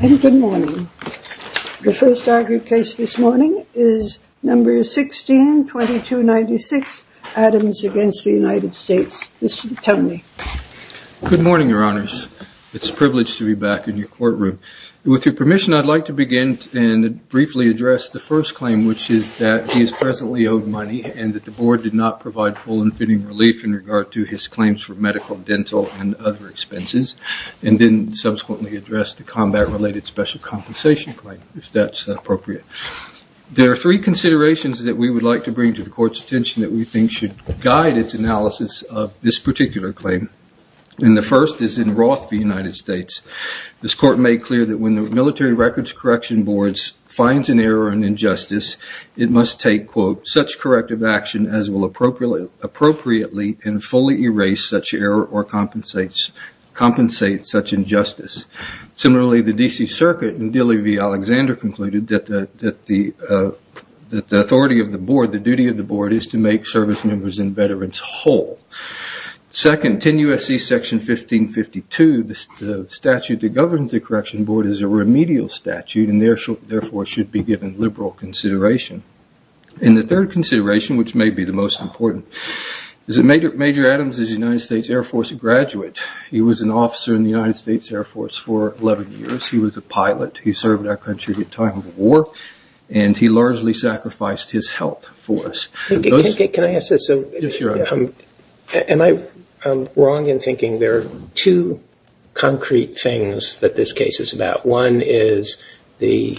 Good morning. The first argued case this morning is number 16-2296, Adams against the United States. Mr. Tonley. Good morning, your honors. It's a privilege to be back in your courtroom. With your permission, I'd like to begin and briefly address the first claim, which is that he is presently owed money and that the board did not provide full and fitting relief in regard to his claims for medical, dental, and other expenses, and didn't subsequently address the combat-related special compensation claim, if that's appropriate. There are three considerations that we would like to bring to the court's attention that we think should guide its analysis of this particular claim. And the first is in Roth v. United States. This court made clear that when the military records correction boards finds an error or an injustice, it must take, quote, such corrective action as will appropriately and fully erase such error or compensate such injustice. Similarly, the D.C. Circuit in Dilley v. Alexander concluded that the authority of the board, the duty of the board, is to make service members and veterans whole. Second, 10 U.S.C. section 1552, the statute that governs the correction board is a remedial statute and therefore should be given liberal consideration. And the third consideration, which may be the most important, is that Major Adams is a United States Air Force graduate. He was an officer in the United States Air Force for 11 years. He was a pilot. He served our country at the time of the war, and he largely sacrificed his health for us. Can I ask this? Am I wrong in thinking there are two concrete things that this case is about? One is the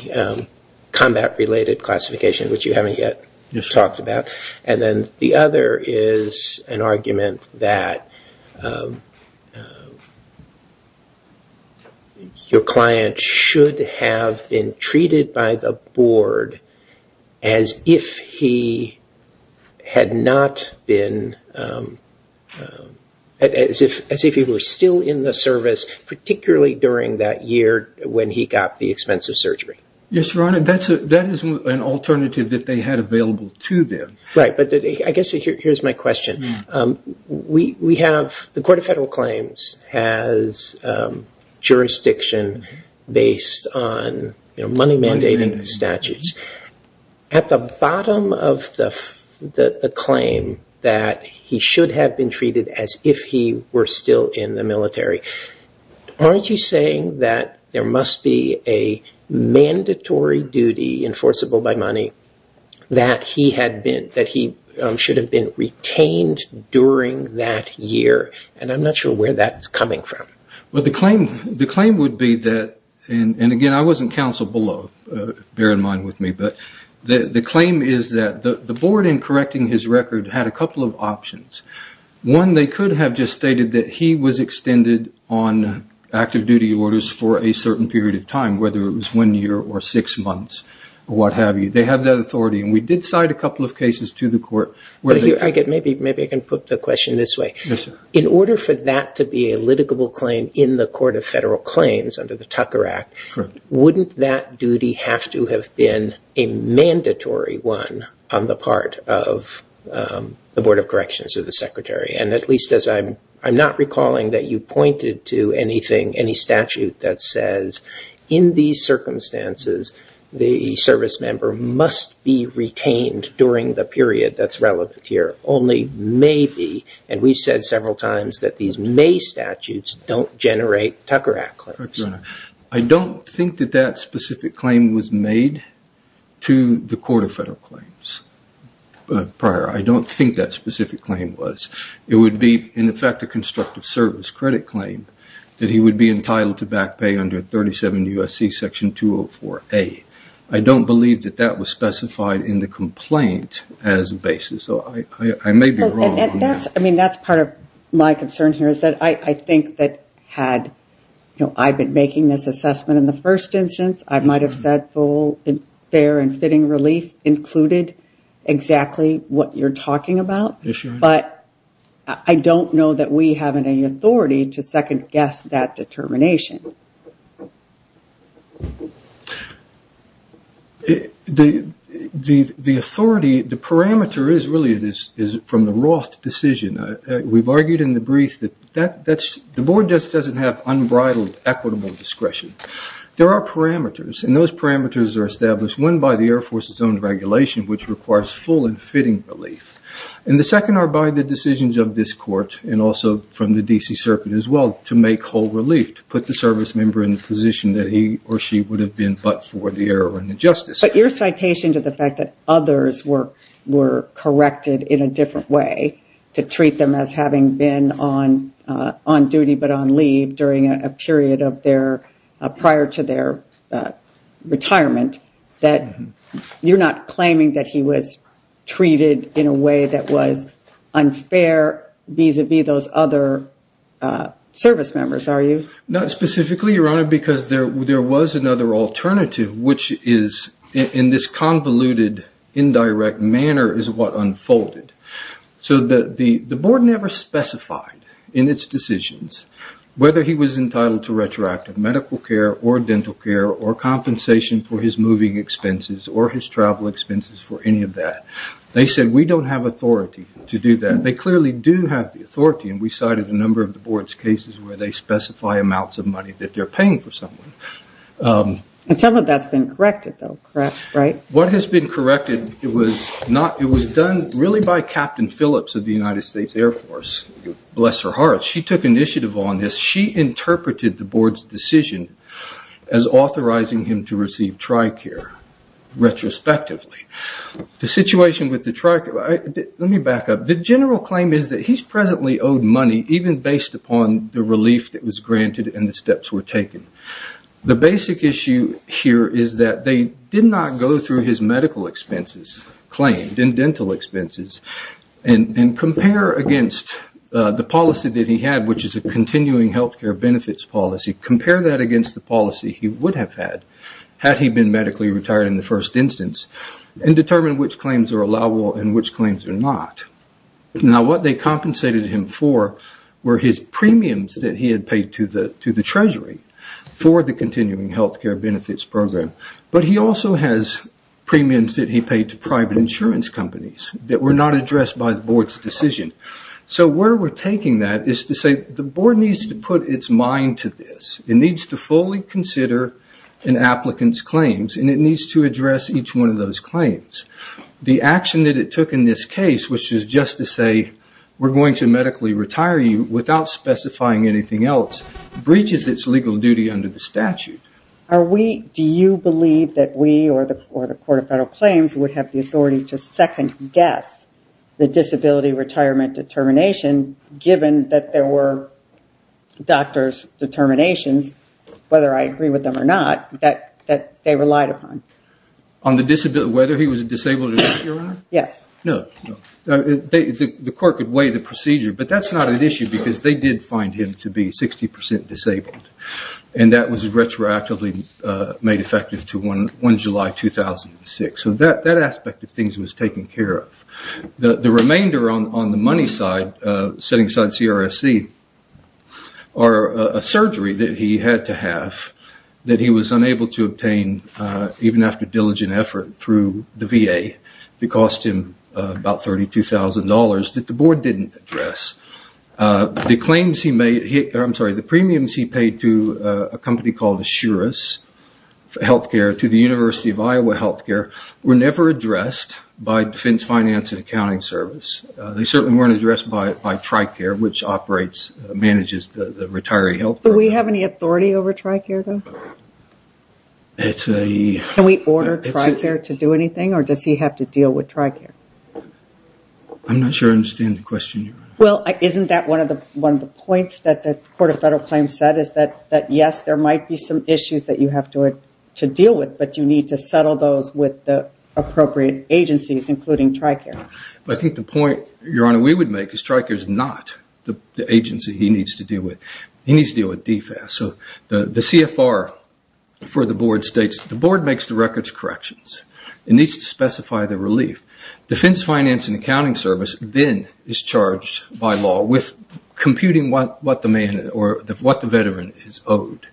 combat-related classification, which you haven't yet talked about. And then the other is an argument that your client should have been treated by the board as if he had not been, as if he were still in the service, particularly during that year when he got the expensive surgery. Yes, Your Honor. That is an alternative that they had available to them. Right, but I guess here's my question. The Court of Federal Claims has jurisdiction based on money-mandating statutes. At the bottom of the claim that he should have been treated as if he were still in the military, aren't you saying that there must be a mandatory duty enforceable by money that he should have been retained during that year? And I'm not sure where that's coming from. The claim is that the board, in correcting his record, had a couple of options. One, they could have just stated that he was extended on active duty orders for a certain period of time, whether it was one year or six months, or what have you. They have that authority, and we did cite a couple of cases to the court. Maybe I can put the question this way. In order for that to be a litigable claim in the Court of Federal Claims under the Tucker Act, wouldn't that duty have to have been a mandatory one on the part of the Board of Corrections or the Secretary? And at least as I'm not recalling that you pointed to anything, any statute that says, in these circumstances, the service member must be retained during the period that's relevant here. Only maybe, and we've said several times that these may statutes don't generate Tucker Act claims. I don't think that that specific claim was made to the Court of Federal Claims prior. I don't think that specific claim was. It would be, in effect, a constructive service credit claim that he would be entitled to back pay under 37 U.S.C. Section 204A. I don't believe that that was specified in the complaint as a basis, so I may be wrong. That's part of my concern here, is that I think that had I been making this assessment in the first instance, I might have said full, fair, and fitting relief included exactly what you're talking about, but I don't know that we have any authority to second-guess that determination. The authority, the parameter, is really from the Roth decision. We've argued in the brief that the Board just doesn't have unbridled equitable discretion. There are parameters, and those parameters are established, one, by the Air Force's own regulation, which requires full and fitting relief. The second are by the decisions of this Court, and also from the D.C. Circuit as well, to make whole relief, to put the service member in the position that he or she would have been but for the error and injustice. But your citation to the fact that others were corrected in a different way, to treat them as having been on duty but on leave prior to their retirement, you're not claiming that he was treated in a way that was unfair vis-à-vis those other service members, are you? Not specifically, Your Honor, because there was another alternative, which is in this convoluted, indirect manner is what unfolded. The Board never specified in its decisions whether he was entitled to retroactive medical care or dental care or compensation for his moving expenses or his travel expenses for any of that. They said, we don't have authority to do that. They clearly do have the authority, and we cited a number of the Board's cases where they specify amounts of money that they're paying for someone. Some of that's been corrected, though, correct? What has been corrected, it was done really by Captain Phillips of the United States Air Force. Bless her heart. She took initiative on this. She interpreted the Board's decision as authorizing him to receive TRICARE retrospectively. The situation with the TRICARE, let me back up. The general claim is that he's presently owed money, even based upon the relief that was granted and the steps were taken. The basic issue here is that they did not go through his medical expenses claimed and dental expenses and compare against the policy that he had, which is a continuing health care benefits policy. Compare that against the policy he would have had, had he been medically retired in the first instance, and determine which claims are allowable and which claims are not. What they compensated him for were his premiums that he had paid to the Treasury for the continuing health care benefits program, but he also has premiums that he paid to private insurance companies that were not addressed by the Board's decision. Where we're taking that is to say the Board needs to put its mind to this. It needs to fully consider an applicant's claims and it needs to address each one of those claims. The action that it took in this case, which is just to say, we're going to medically retire you without specifying anything else, breaches its legal duty under the statute. Do you believe that we or the Court of Federal Claims would have the authority to second-guess the disability retirement determination, given that there were doctor's determinations, whether I agree with them or not, that they relied upon? Whether he was disabled or not, Your Honor? Yes. No. The court could weigh the procedure, but that's not an issue because they did find him to be 60% disabled. That was retroactively made effective to 1 July 2006. That aspect of things was taken care of. The remainder on the money side, setting aside CRSC, are a surgery that he had to have that he was unable to obtain even after diligent effort through the VA that cost him about $32,000 that the Board didn't address. The premiums he paid to a company called Asurus Healthcare to the University of Iowa Healthcare were never addressed by Defense Finance and Accounting Service. They certainly weren't addressed by TRICARE, which manages the retiree healthcare. Do we have any authority over TRICARE, though? Can we order TRICARE to do anything or does he have to deal with TRICARE? I'm not sure I understand the question, Your Honor. Isn't that one of the points that the Court of Federal Claims said? Yes, there might be some issues that you have to deal with, but you need to settle those with the appropriate agencies, including TRICARE. I think the point, Your Honor, we would make is TRICARE is not the agency he needs to deal with. He needs to deal with DFAS. The CFR for the Board states the Board makes the records corrections. It needs to specify the relief. Defense Finance and Accounting Service then is charged by law with computing what the veteran is owed.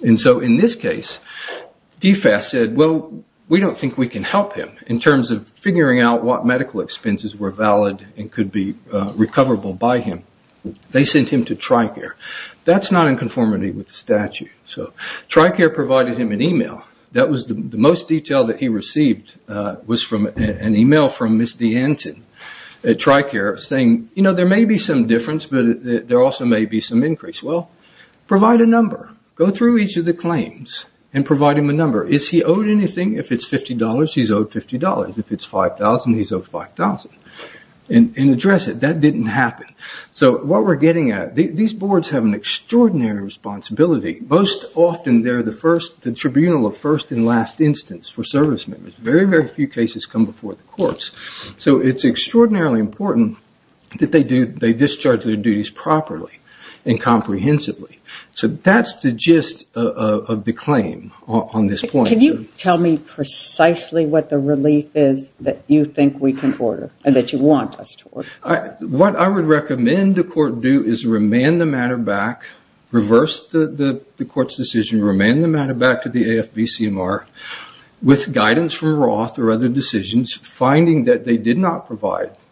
In this case, DFAS said, well, we don't think we can help him in terms of figuring out what medical expenses were valid and could be recoverable by him. They sent him to TRICARE. That's not in conformity with the statute. TRICARE provided him an email. The most detail that he received was an email from Ms. DeAnton at TRICARE saying, there may be some difference, but there also may be some increase. Well, provide a number. Go through each of the claims and provide him a number. Is he owed anything? If it's $50, he's owed $50. If it's $5,000, he's owed $5,000. Address it. That didn't happen. What we're getting at, these boards have an extraordinary responsibility. Most often, they're the tribunal of first and last instance for service members. Very, very few cases come before the courts. So it's extraordinarily important that they discharge their duties properly and comprehensively. So that's the gist of the claim on this point. Can you tell me precisely what the relief is that you think we can order and that you want us to order? What I would recommend the court do is remand the matter back, reverse the court's decision, remand the matter back to the AFB-CMR with guidance from Roth or other decisions, finding that they did not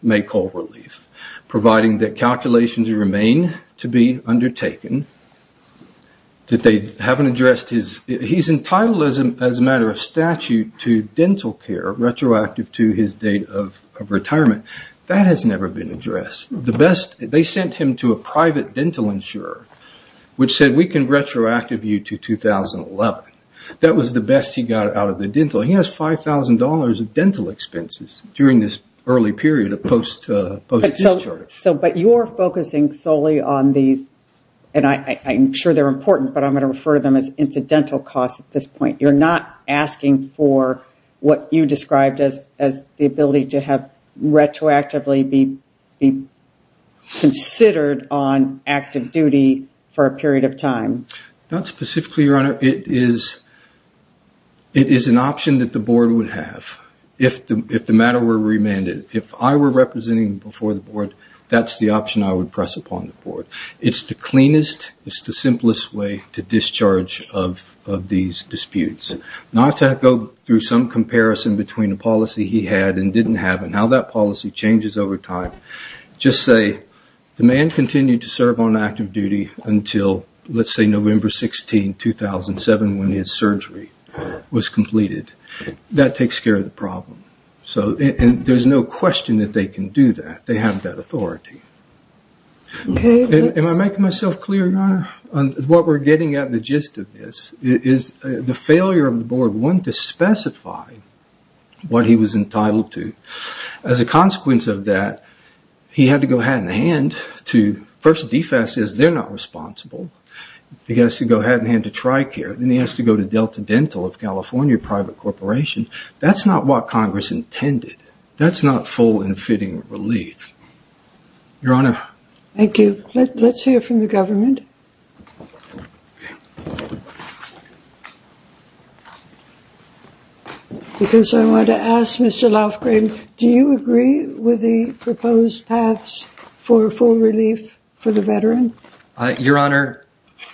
make whole relief, providing that calculations remain to be undertaken, that they haven't addressed his... He's entitled as a matter of statute to dental care retroactive to his date of retirement. That has never been addressed. They sent him to a private dental insurer, which said, we can retroactive you to 2011. That was the best he got out of the dental. He has $5,000 of dental expenses during this early period of post-discharge. But you're focusing solely on these, and I'm sure they're important, but I'm going to refer to them as incidental costs at this point. You're not asking for what you described as the ability to have retroactively be considered on active duty for a period of time. Not specifically, Your Honor. It is an option that the board would have if the matter were remanded. If I were representing before the board, that's the option I would press upon the board. It's the cleanest, it's the simplest way to discharge of these disputes. Not to go through some comparison between the policy he had and didn't have and how that policy changes over time. Just say, the man continued to serve on active duty until, let's say, November 16, 2007 when his surgery was completed. That takes care of the problem. There's no question that they can do that. They have that authority. Am I making myself clear, Your Honor? What we're getting at in the gist of this is the failure of the board, one, to specify what he was entitled to. As a consequence of that, he had to go hand-in-hand to... First, DFAS says they're not responsible. He has to go hand-in-hand to Tricare, then he has to go to Delta Dental of California, a private corporation. That's not what Congress intended. That's not full and fitting relief. Your Honor. Thank you. Let's hear from the government. Because I want to ask Mr. Laufgren, do you agree with the proposed paths for full relief for the veteran? Your Honor,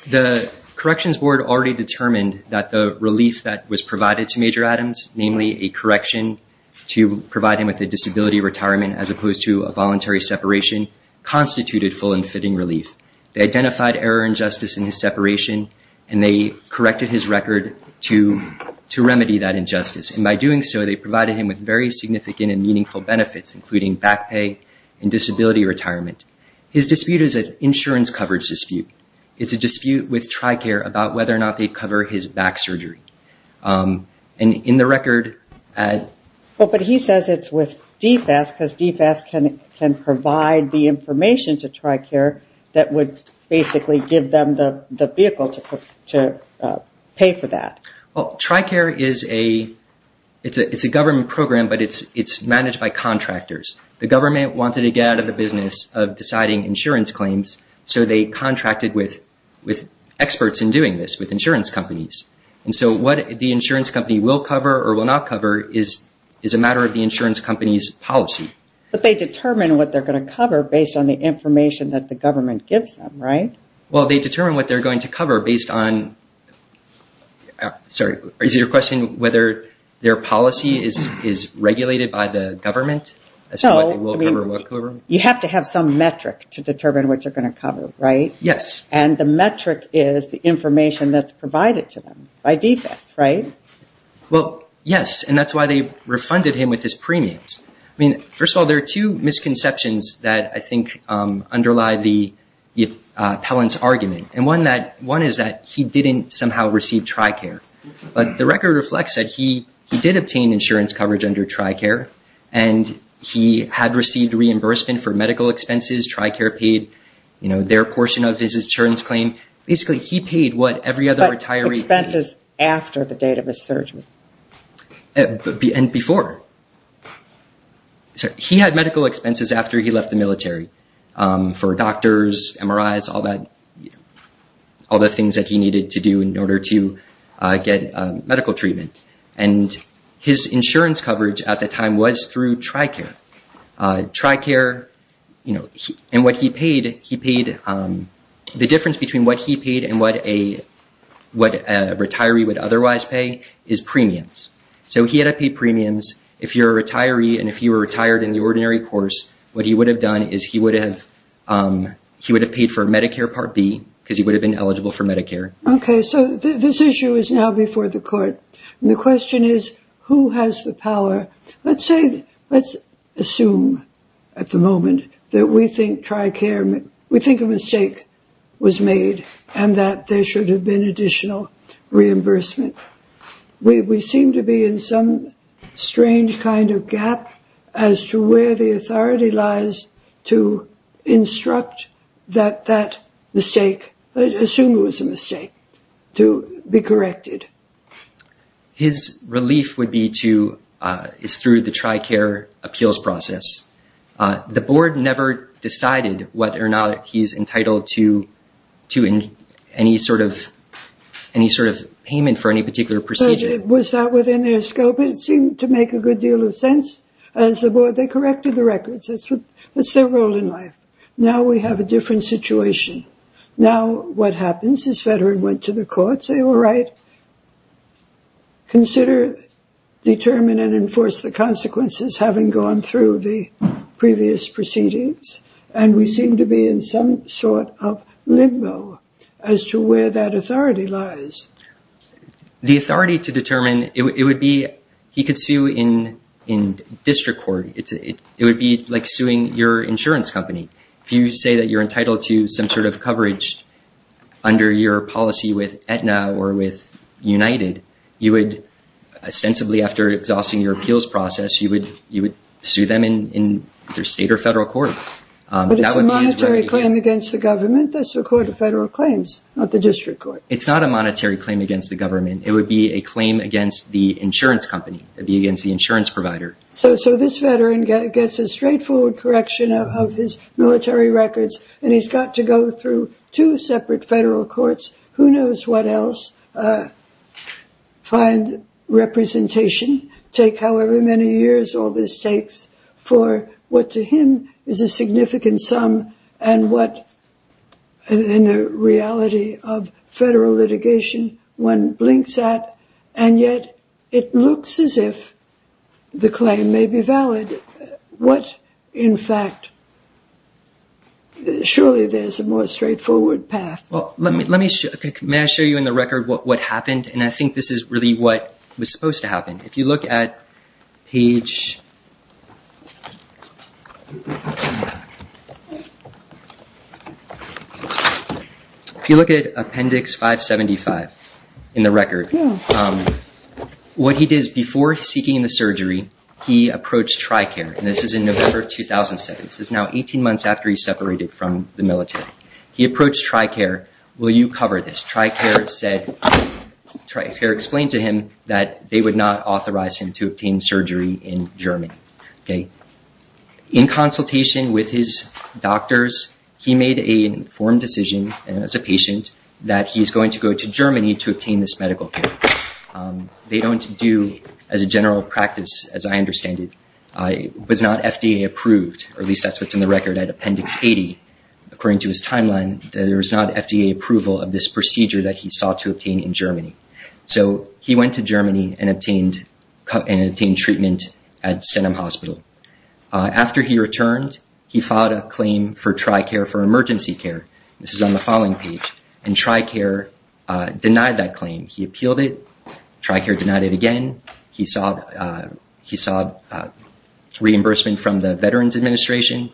the Corrections Board already determined that the relief that was provided to Major Adams, namely a correction to provide him with a disability retirement as opposed to a voluntary separation, constituted full and fitting relief. They identified error and justice in his separation, and they corrected his record to remedy that injustice. And by doing so, they provided him with very significant and meaningful benefits, including back pay and disability retirement. His dispute is an insurance coverage dispute. It's a dispute with Tricare about whether or not they'd cover his back surgery. But he says it's with DFAS because DFAS can provide the information to Tricare that would basically give them the vehicle to pay for that. Well, Tricare is a government program, but it's managed by contractors. The government wanted to get out of the business of deciding insurance claims, so they contracted with experts in doing this, with insurance companies. And so what the insurance company will cover or will not cover is a matter of the insurance company's policy. But they determine what they're going to cover based on the information that the government gives them, right? Well, they determine what they're going to cover based on – sorry, is it your question whether their policy is regulated by the government? So you have to have some metric to determine what you're going to cover, right? Yes. And the metric is the information that's provided to them by DFAS, right? Well, yes, and that's why they refunded him with his premiums. I mean, first of all, there are two misconceptions that I think underlie the appellant's argument. And one is that he didn't somehow receive Tricare. But the record reflects that he did obtain insurance coverage under Tricare, and he had received reimbursement for medical expenses. Tricare paid their portion of his insurance claim. Basically, he paid what every other retiree paid. But expenses after the date of his surgery. And before. He had medical expenses after he left the military for doctors, MRIs, all the things that he needed to do in order to get medical treatment. And his insurance coverage at the time was through Tricare. Tricare, you know, and what he paid, he paid, the difference between what he paid and what a retiree would otherwise pay is premiums. So he had to pay premiums. If you're a retiree and if you were retired in the ordinary course, what he would have done is he would have paid for Medicare Part B because he would have been eligible for Medicare. Okay, so this issue is now before the court. And the question is, who has the power? Let's say, let's assume at the moment that we think Tricare, we think a mistake was made and that there should have been additional reimbursement. We seem to be in some strange kind of gap as to where the authority lies to instruct that that mistake, assume it was a mistake, to be corrected. His relief would be to, is through the Tricare appeals process. The board never decided whether or not he's entitled to any sort of payment for any particular procedure. Was that within their scope? It seemed to make a good deal of sense as the board. They corrected the records. That's their role in life. Now we have a different situation. Now what happens is veteran went to the court, say, all right, consider, determine, and enforce the consequences having gone through the previous proceedings. And we seem to be in some sort of limbo as to where that authority lies. The authority to determine, it would be, he could sue in district court. It would be like suing your insurance company. If you say that you're entitled to some sort of coverage under your policy with Aetna or with United, you would ostensibly, after exhausting your appeals process, you would sue them in their state or federal court. But it's a monetary claim against the government. That's the court of federal claims, not the district court. It's not a monetary claim against the government. It would be a claim against the insurance company. It would be against the insurance provider. So this veteran gets a straightforward correction of his military records, and he's got to go through two separate federal courts, who knows what else, find representation, take however many years all this takes for what to him is a significant sum and what in the reality of federal litigation one blinks at. And yet it looks as if the claim may be valid. What, in fact, surely there's a more straightforward path. Well, let me show you in the record what happened. And I think this is really what was supposed to happen. If you look at appendix 575 in the record, what he did is before seeking the surgery, he approached TRICARE. And this is in November of 2007. This is now 18 months after he separated from the military. He approached TRICARE, will you cover this? TRICARE explained to him that they would not authorize him to obtain surgery in Germany. In consultation with his doctors, he made an informed decision as a patient that he's going to go to Germany to obtain this medical care. They don't do, as a general practice, as I understand it, it was not FDA approved, or at least that's what's in the record at appendix 80. According to his timeline, there is not FDA approval of this procedure that he sought to obtain in Germany. So he went to Germany and obtained treatment at Stenum Hospital. After he returned, he filed a claim for TRICARE for emergency care. This is on the following page. And TRICARE denied that claim. He appealed it. TRICARE denied it again. He sought reimbursement from the Veterans Administration.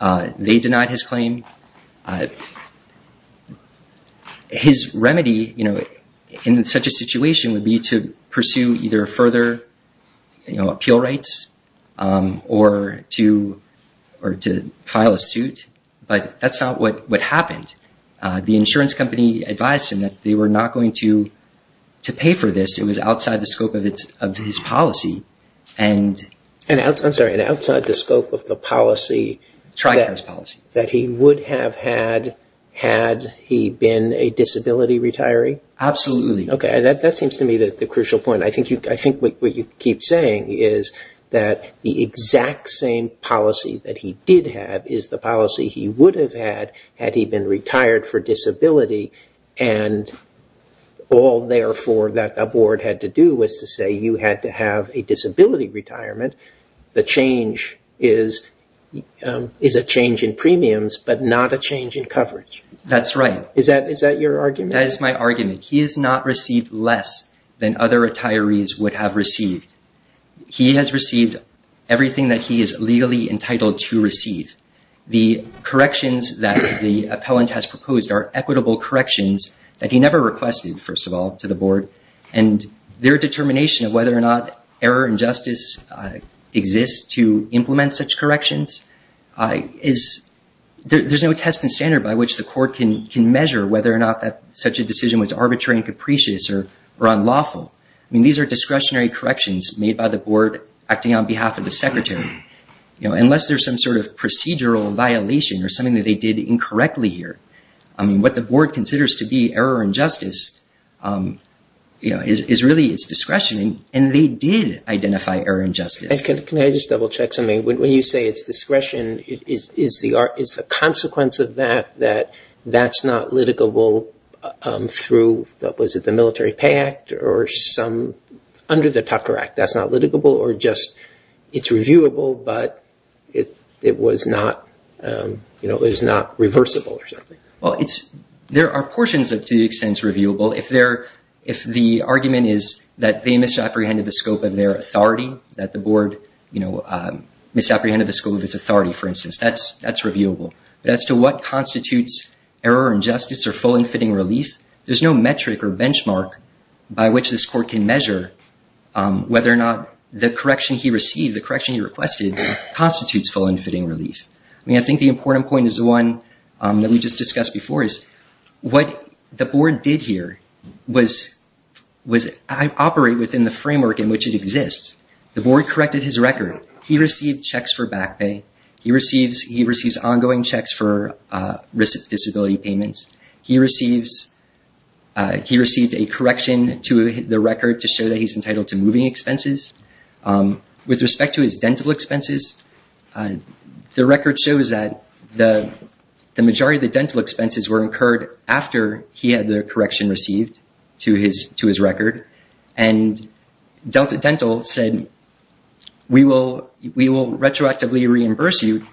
They denied his claim. His remedy, you know, in such a situation would be to pursue either further, you know, appeal rights or to file a suit. But that's not what happened. The insurance company advised him that they were not going to pay for this. It was outside the scope of his policy. I'm sorry, outside the scope of the policy. TRICARE's policy. That he would have had, had he been a disability retiree? Absolutely. Okay. That seems to me the crucial point. I think what you keep saying is that the exact same policy that he did have is the policy he would have had, had he been retired for disability. And all, therefore, that the board had to do was to say you had to have a disability retirement. The change is a change in premiums but not a change in coverage. That's right. Is that your argument? That is my argument. He has not received less than other retirees would have received. He has received everything that he is legally entitled to receive. The corrections that the appellant has proposed are equitable corrections that he never requested, first of all, to the board. And their determination of whether or not error and justice exist to implement such corrections is, there's no test and standard by which the court can measure whether or not that such a decision was arbitrary and capricious or unlawful. I mean, these are discretionary corrections made by the board acting on behalf of the secretary. Unless there's some sort of procedural violation or something that they did incorrectly here, I mean, what the board considers to be error and justice is really its discretion, and they did identify error and justice. Can I just double check something? When you say it's discretion, is the consequence of that that that's not litigable through, was it the Military Pay Act or some, under the Tucker Act, that's not litigable, or just it's reviewable but it was not, you know, it was not reversible or something? Well, there are portions that to the extent it's reviewable. If the argument is that they misapprehended the scope of their authority, that the board, you know, misapprehended the scope of its authority, for instance, that's reviewable. But as to what constitutes error and justice or full and fitting relief, there's no metric or benchmark by which this court can measure whether or not the correction he received, the correction he requested, constitutes full and fitting relief. I mean, I think the important point is the one that we just discussed before, is what the board did here was operate within the framework in which it exists. The board corrected his record. He received checks for back pay. He receives ongoing checks for disability payments. He received a correction to the record to show that he's entitled to moving expenses. With respect to his dental expenses, the record shows that the majority of the dental expenses were incurred after he had the correction received to his record. And Delta Dental said, we will retroactively reimburse you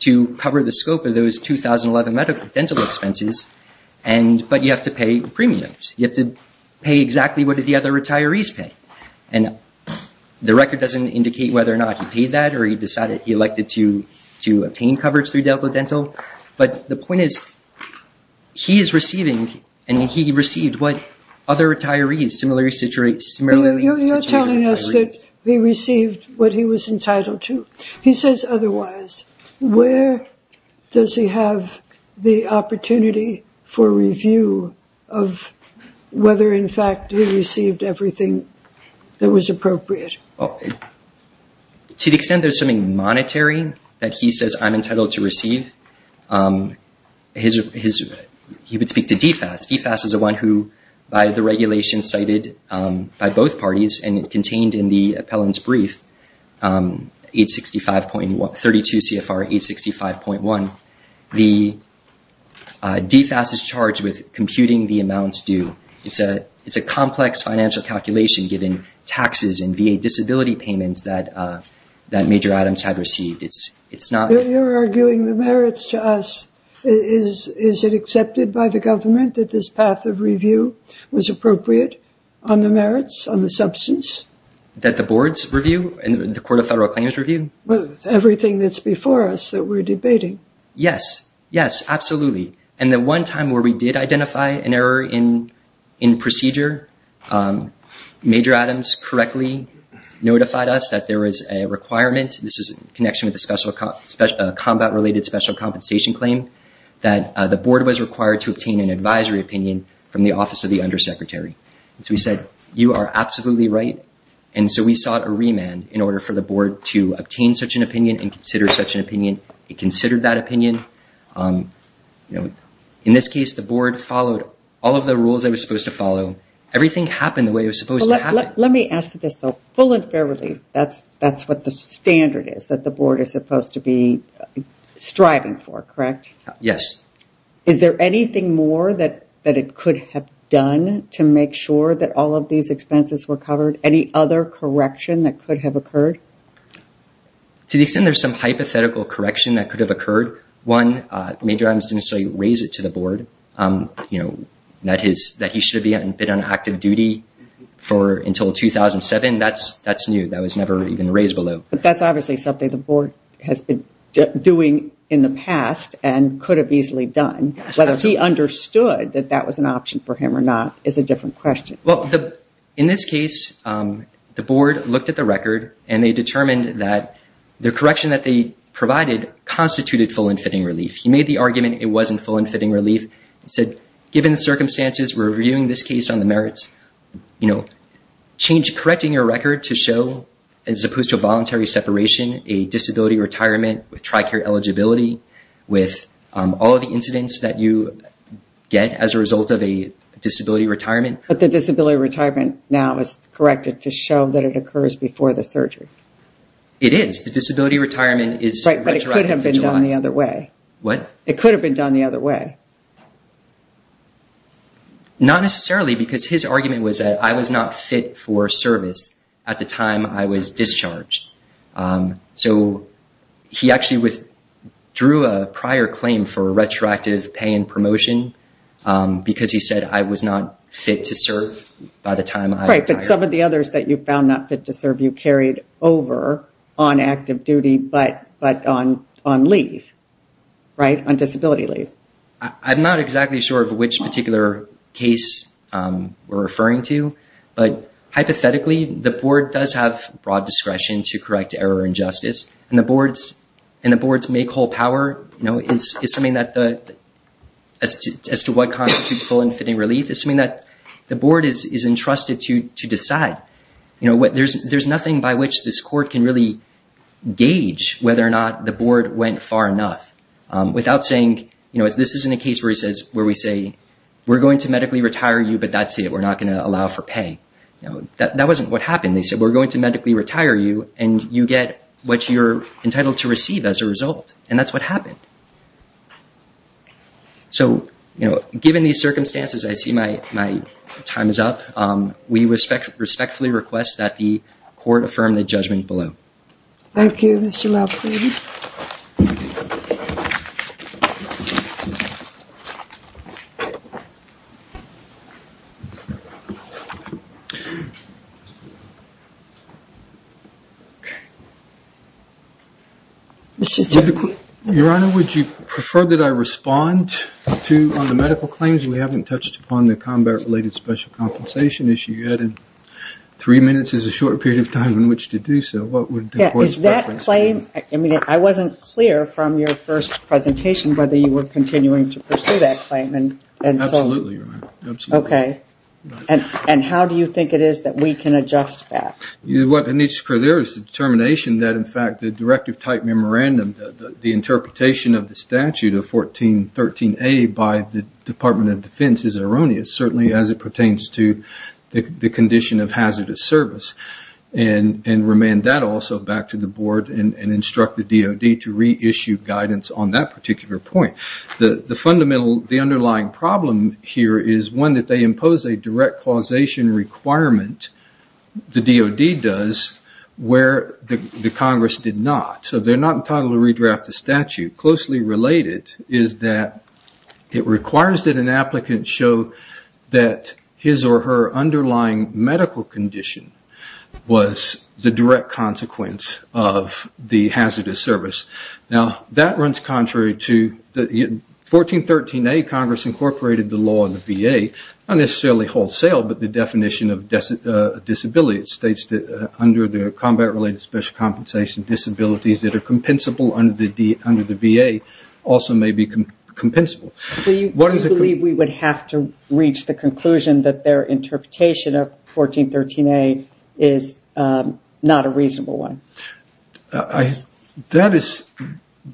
to cover the scope of those 2011 medical dental expenses, but you have to pay premiums. You have to pay exactly what the other retirees pay. And the record doesn't indicate whether or not he paid that or he decided he elected to obtain coverage through Delta Dental. But the point is, he is receiving, and he received what other retirees, similarly situated retirees. You're telling us that he received what he was entitled to. He says otherwise. Where does he have the opportunity for review of whether, in fact, he received everything that was appropriate? To the extent there's something monetary that he says I'm entitled to receive, he would speak to DFAS. DFAS is the one who, by the regulation cited by both parties and contained in the appellant's brief, 865.1, 32 CFR 865.1. The DFAS is charged with computing the amounts due. It's a complex financial calculation given taxes and VA disability payments that Major Adams had received. You're arguing the merits to us. Is it accepted by the government that this path of review was appropriate on the merits, on the substance? That the boards review and the Court of Federal Claims review? Everything that's before us that we're debating. Yes, yes, absolutely. The one time where we did identify an error in procedure, Major Adams correctly notified us that there was a requirement. This is in connection with a combat-related special compensation claim, that the board was required to obtain an advisory opinion from the office of the undersecretary. We said, you are absolutely right. We sought a remand in order for the board to obtain such an opinion and consider such an opinion. In this case, the board followed all of the rules it was supposed to follow. Everything happened the way it was supposed to happen. Let me ask you this, though. Full and fair relief, that's what the standard is that the board is supposed to be striving for, correct? Yes. Is there anything more that it could have done to make sure that all of these expenses were covered? Any other correction that could have occurred? To the extent there's some hypothetical correction that could have occurred, one, Major Adams didn't necessarily raise it to the board that he should have been on active duty until 2007. That's new. That was never even raised below. But that's obviously something the board has been doing in the past and could have easily done. Whether he understood that that was an option for him or not is a different question. Well, in this case, the board looked at the record and they determined that the correction that they provided constituted full and fitting relief. He made the argument it wasn't full and fitting relief. He said, given the circumstances, we're reviewing this case on the merits. You know, correcting your record to show, as opposed to a voluntary separation, a disability retirement with TRICARE eligibility with all of the incidents that you get as a result of a disability retirement. But the disability retirement now is corrected to show that it occurs before the surgery. It is. The disability retirement is retroactive to July. Right, but it could have been done the other way. What? It could have been done the other way. Not necessarily because his argument was that I was not fit for service at the time I was discharged. So he actually withdrew a prior claim for a retroactive pay and promotion because he said I was not fit to serve by the time I retired. Right, but some of the others that you found not fit to serve, you carried over on active duty, but on leave, right? On disability leave. I'm not exactly sure of which particular case we're referring to, but hypothetically, the board does have broad discretion to correct error and justice, and the board's make whole power as to what constitutes full and fitting relief is something that the board is entrusted to decide. There's nothing by which this court can really gauge whether or not the board went far enough without saying, this isn't a case where we say we're going to medically retire you, but that's it. We're not going to allow for pay. That wasn't what happened. They said, we're going to medically retire you, and you get what you're entitled to receive as a result. And that's what happened. So, you know, given these circumstances, I see my time is up. We respectfully request that the court affirm the judgment below. Thank you, Mr. LaFleur. Okay. Your Honor, would you prefer that I respond to the medical claims? We haven't touched upon the combat-related special compensation issue yet. Three minutes is a short period of time in which to do so. What would the court's preference be? Is that claim, I mean, I wasn't clear from your first presentation whether you were continuing to pursue that claim. Absolutely, Your Honor. Okay. And how do you think it is that we can adjust that? What needs to occur there is the determination that, in fact, the directive type memorandum, the interpretation of the statute of 1413A by the Department of Defense is erroneous, certainly as it pertains to the condition of hazardous service, and remand that also back to the board and instruct the DOD to reissue guidance on that particular point. The underlying problem here is one that they impose a direct causation requirement, the DOD does, where the Congress did not. So they're not entitled to redraft the statute. Closely related is that it requires that an applicant show that his or her underlying medical condition was the direct consequence of the hazardous service. Now, that runs contrary to 1413A, Congress incorporated the law in the VA, not necessarily wholesale, but the definition of disability. It states that under the combat-related special compensation, disabilities that are compensable under the VA also may be compensable. Do you believe we would have to reach the conclusion that their interpretation of 1413A is not a reasonable one?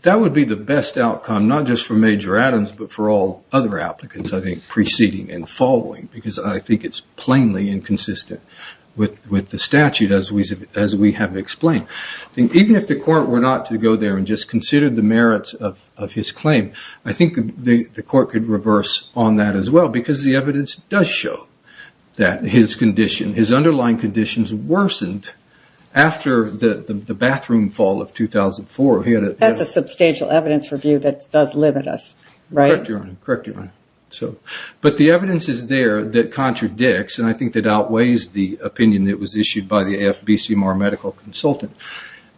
That would be the best outcome, not just for Major Adams, but for all other applicants I think preceding and following, because I think it's plainly inconsistent with the statute as we have explained. Even if the court were not to go there and just consider the merits of his claim, I think the court could reverse on that as well, because the evidence does show that his condition, worsened after the bathroom fall of 2004. That's a substantial evidence review that does limit us, right? Correct, Your Honor. But the evidence is there that contradicts, and I think that outweighs the opinion that was issued by the AFB-CMR medical consultant,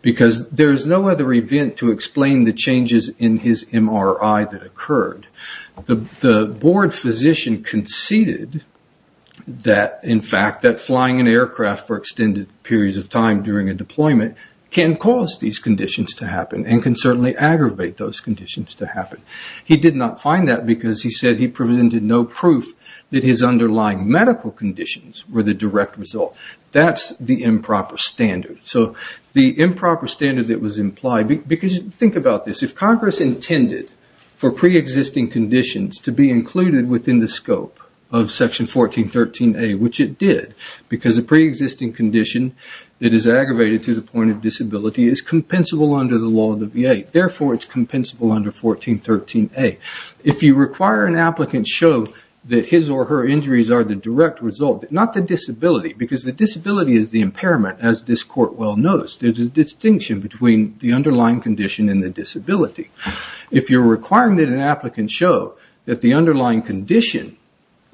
because there is no other event to explain the changes in his MRI that occurred. The board physician conceded, in fact, that flying an aircraft for extended periods of time during a deployment, can cause these conditions to happen, and can certainly aggravate those conditions to happen. He did not find that because he said he presented no proof, that his underlying medical conditions were the direct result. That's the improper standard. So the improper standard that was implied, because think about this. If Congress intended for pre-existing conditions, to be included within the scope of Section 1413A, which it did, because a pre-existing condition that is aggravated to the point of disability, is compensable under the law of the VA. Therefore, it's compensable under 1413A. If you require an applicant show that his or her injuries are the direct result, not the disability, because the disability is the impairment as this court well knows. There's a distinction between the underlying condition and the disability. If you're requiring that an applicant show that the underlying condition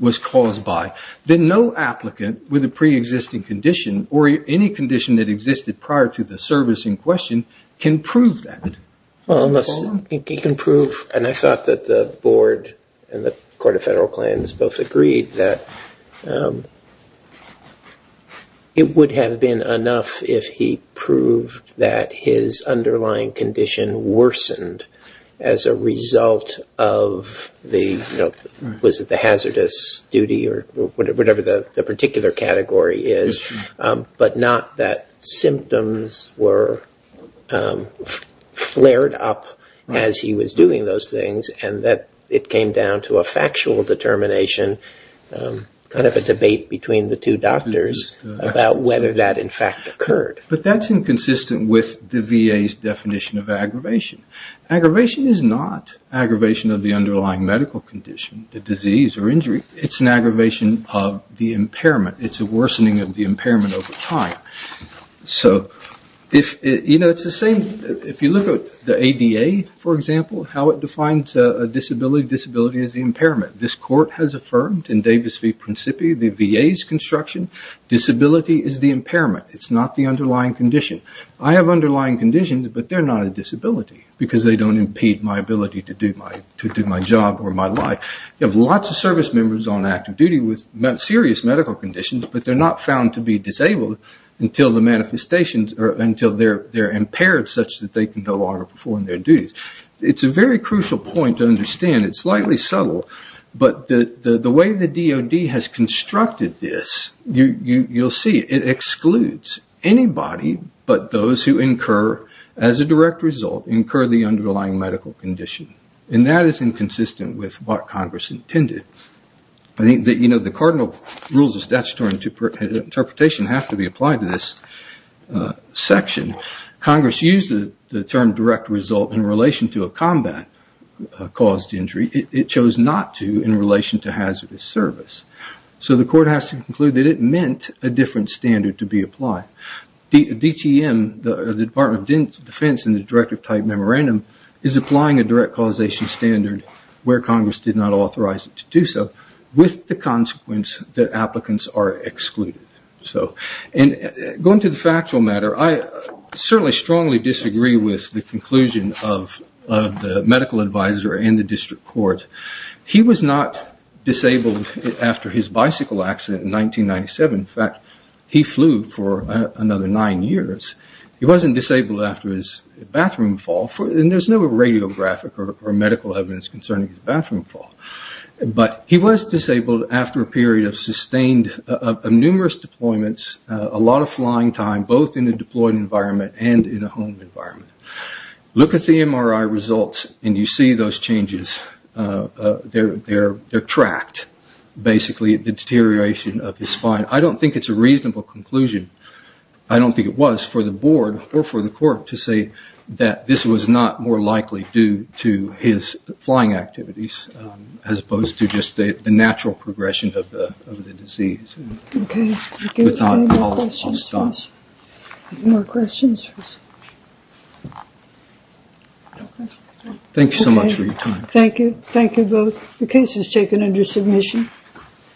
was caused by, then no applicant with a pre-existing condition, or any condition that existed prior to the service in question, can prove that. Well, unless he can prove, and I thought that the board and the Court of Federal Claims both agreed, that it would have been enough if he proved that his underlying condition worsened, as a result of the hazardous duty, or whatever the particular category is, but not that symptoms were flared up as he was doing those things, and that it came down to a factual determination, kind of a debate between the two doctors, about whether that in fact occurred. But that's inconsistent with the VA's definition of aggravation. Aggravation is not aggravation of the underlying medical condition, the disease or injury. It's an aggravation of the impairment. It's a worsening of the impairment over time. If you look at the ADA, for example, how it defines a disability, disability is the impairment. This court has affirmed in Davis v. Principi, the VA's construction, disability is the impairment. It's not the underlying condition. I have underlying conditions, but they're not a disability, because they don't impede my ability to do my job or my life. You have lots of service members on active duty with serious medical conditions, but they're not found to be disabled until the manifestations, or until they're impaired such that they can no longer perform their duties. It's a very crucial point to understand. It's slightly subtle, but the way the DOD has constructed this, you'll see, it excludes anybody but those who incur, as a direct result, incur the underlying medical condition. And that is inconsistent with what Congress intended. The cardinal rules of statutory interpretation have to be applied to this section. Congress used the term direct result in relation to a combat-caused injury. It chose not to in relation to hazardous service. So the court has to conclude that it meant a different standard to be applied. DTM, the Department of Defense, in the directive type memorandum, is applying a direct causation standard where Congress did not authorize it to do so, with the consequence that applicants are excluded. Going to the factual matter, I certainly strongly disagree with the conclusion of the medical advisor and the district court. He was not disabled after his bicycle accident in 1997. In fact, he flew for another nine years. He wasn't disabled after his bathroom fall. And there's no radiographic or medical evidence concerning his bathroom fall. But he was disabled after a period of sustained, of numerous deployments, a lot of flying time, both in a deployed environment and in a home environment. Look at the MRI results and you see those changes. They're tracked, basically, the deterioration of his spine. I don't think it's a reasonable conclusion. I don't think it was, for the board or for the court, to say that this was not more likely due to his flying activities, as opposed to just the natural progression of the disease. Okay. Any more questions? Any more questions? Thank you so much for your time. Thank you. Thank you both. The case is taken under submission.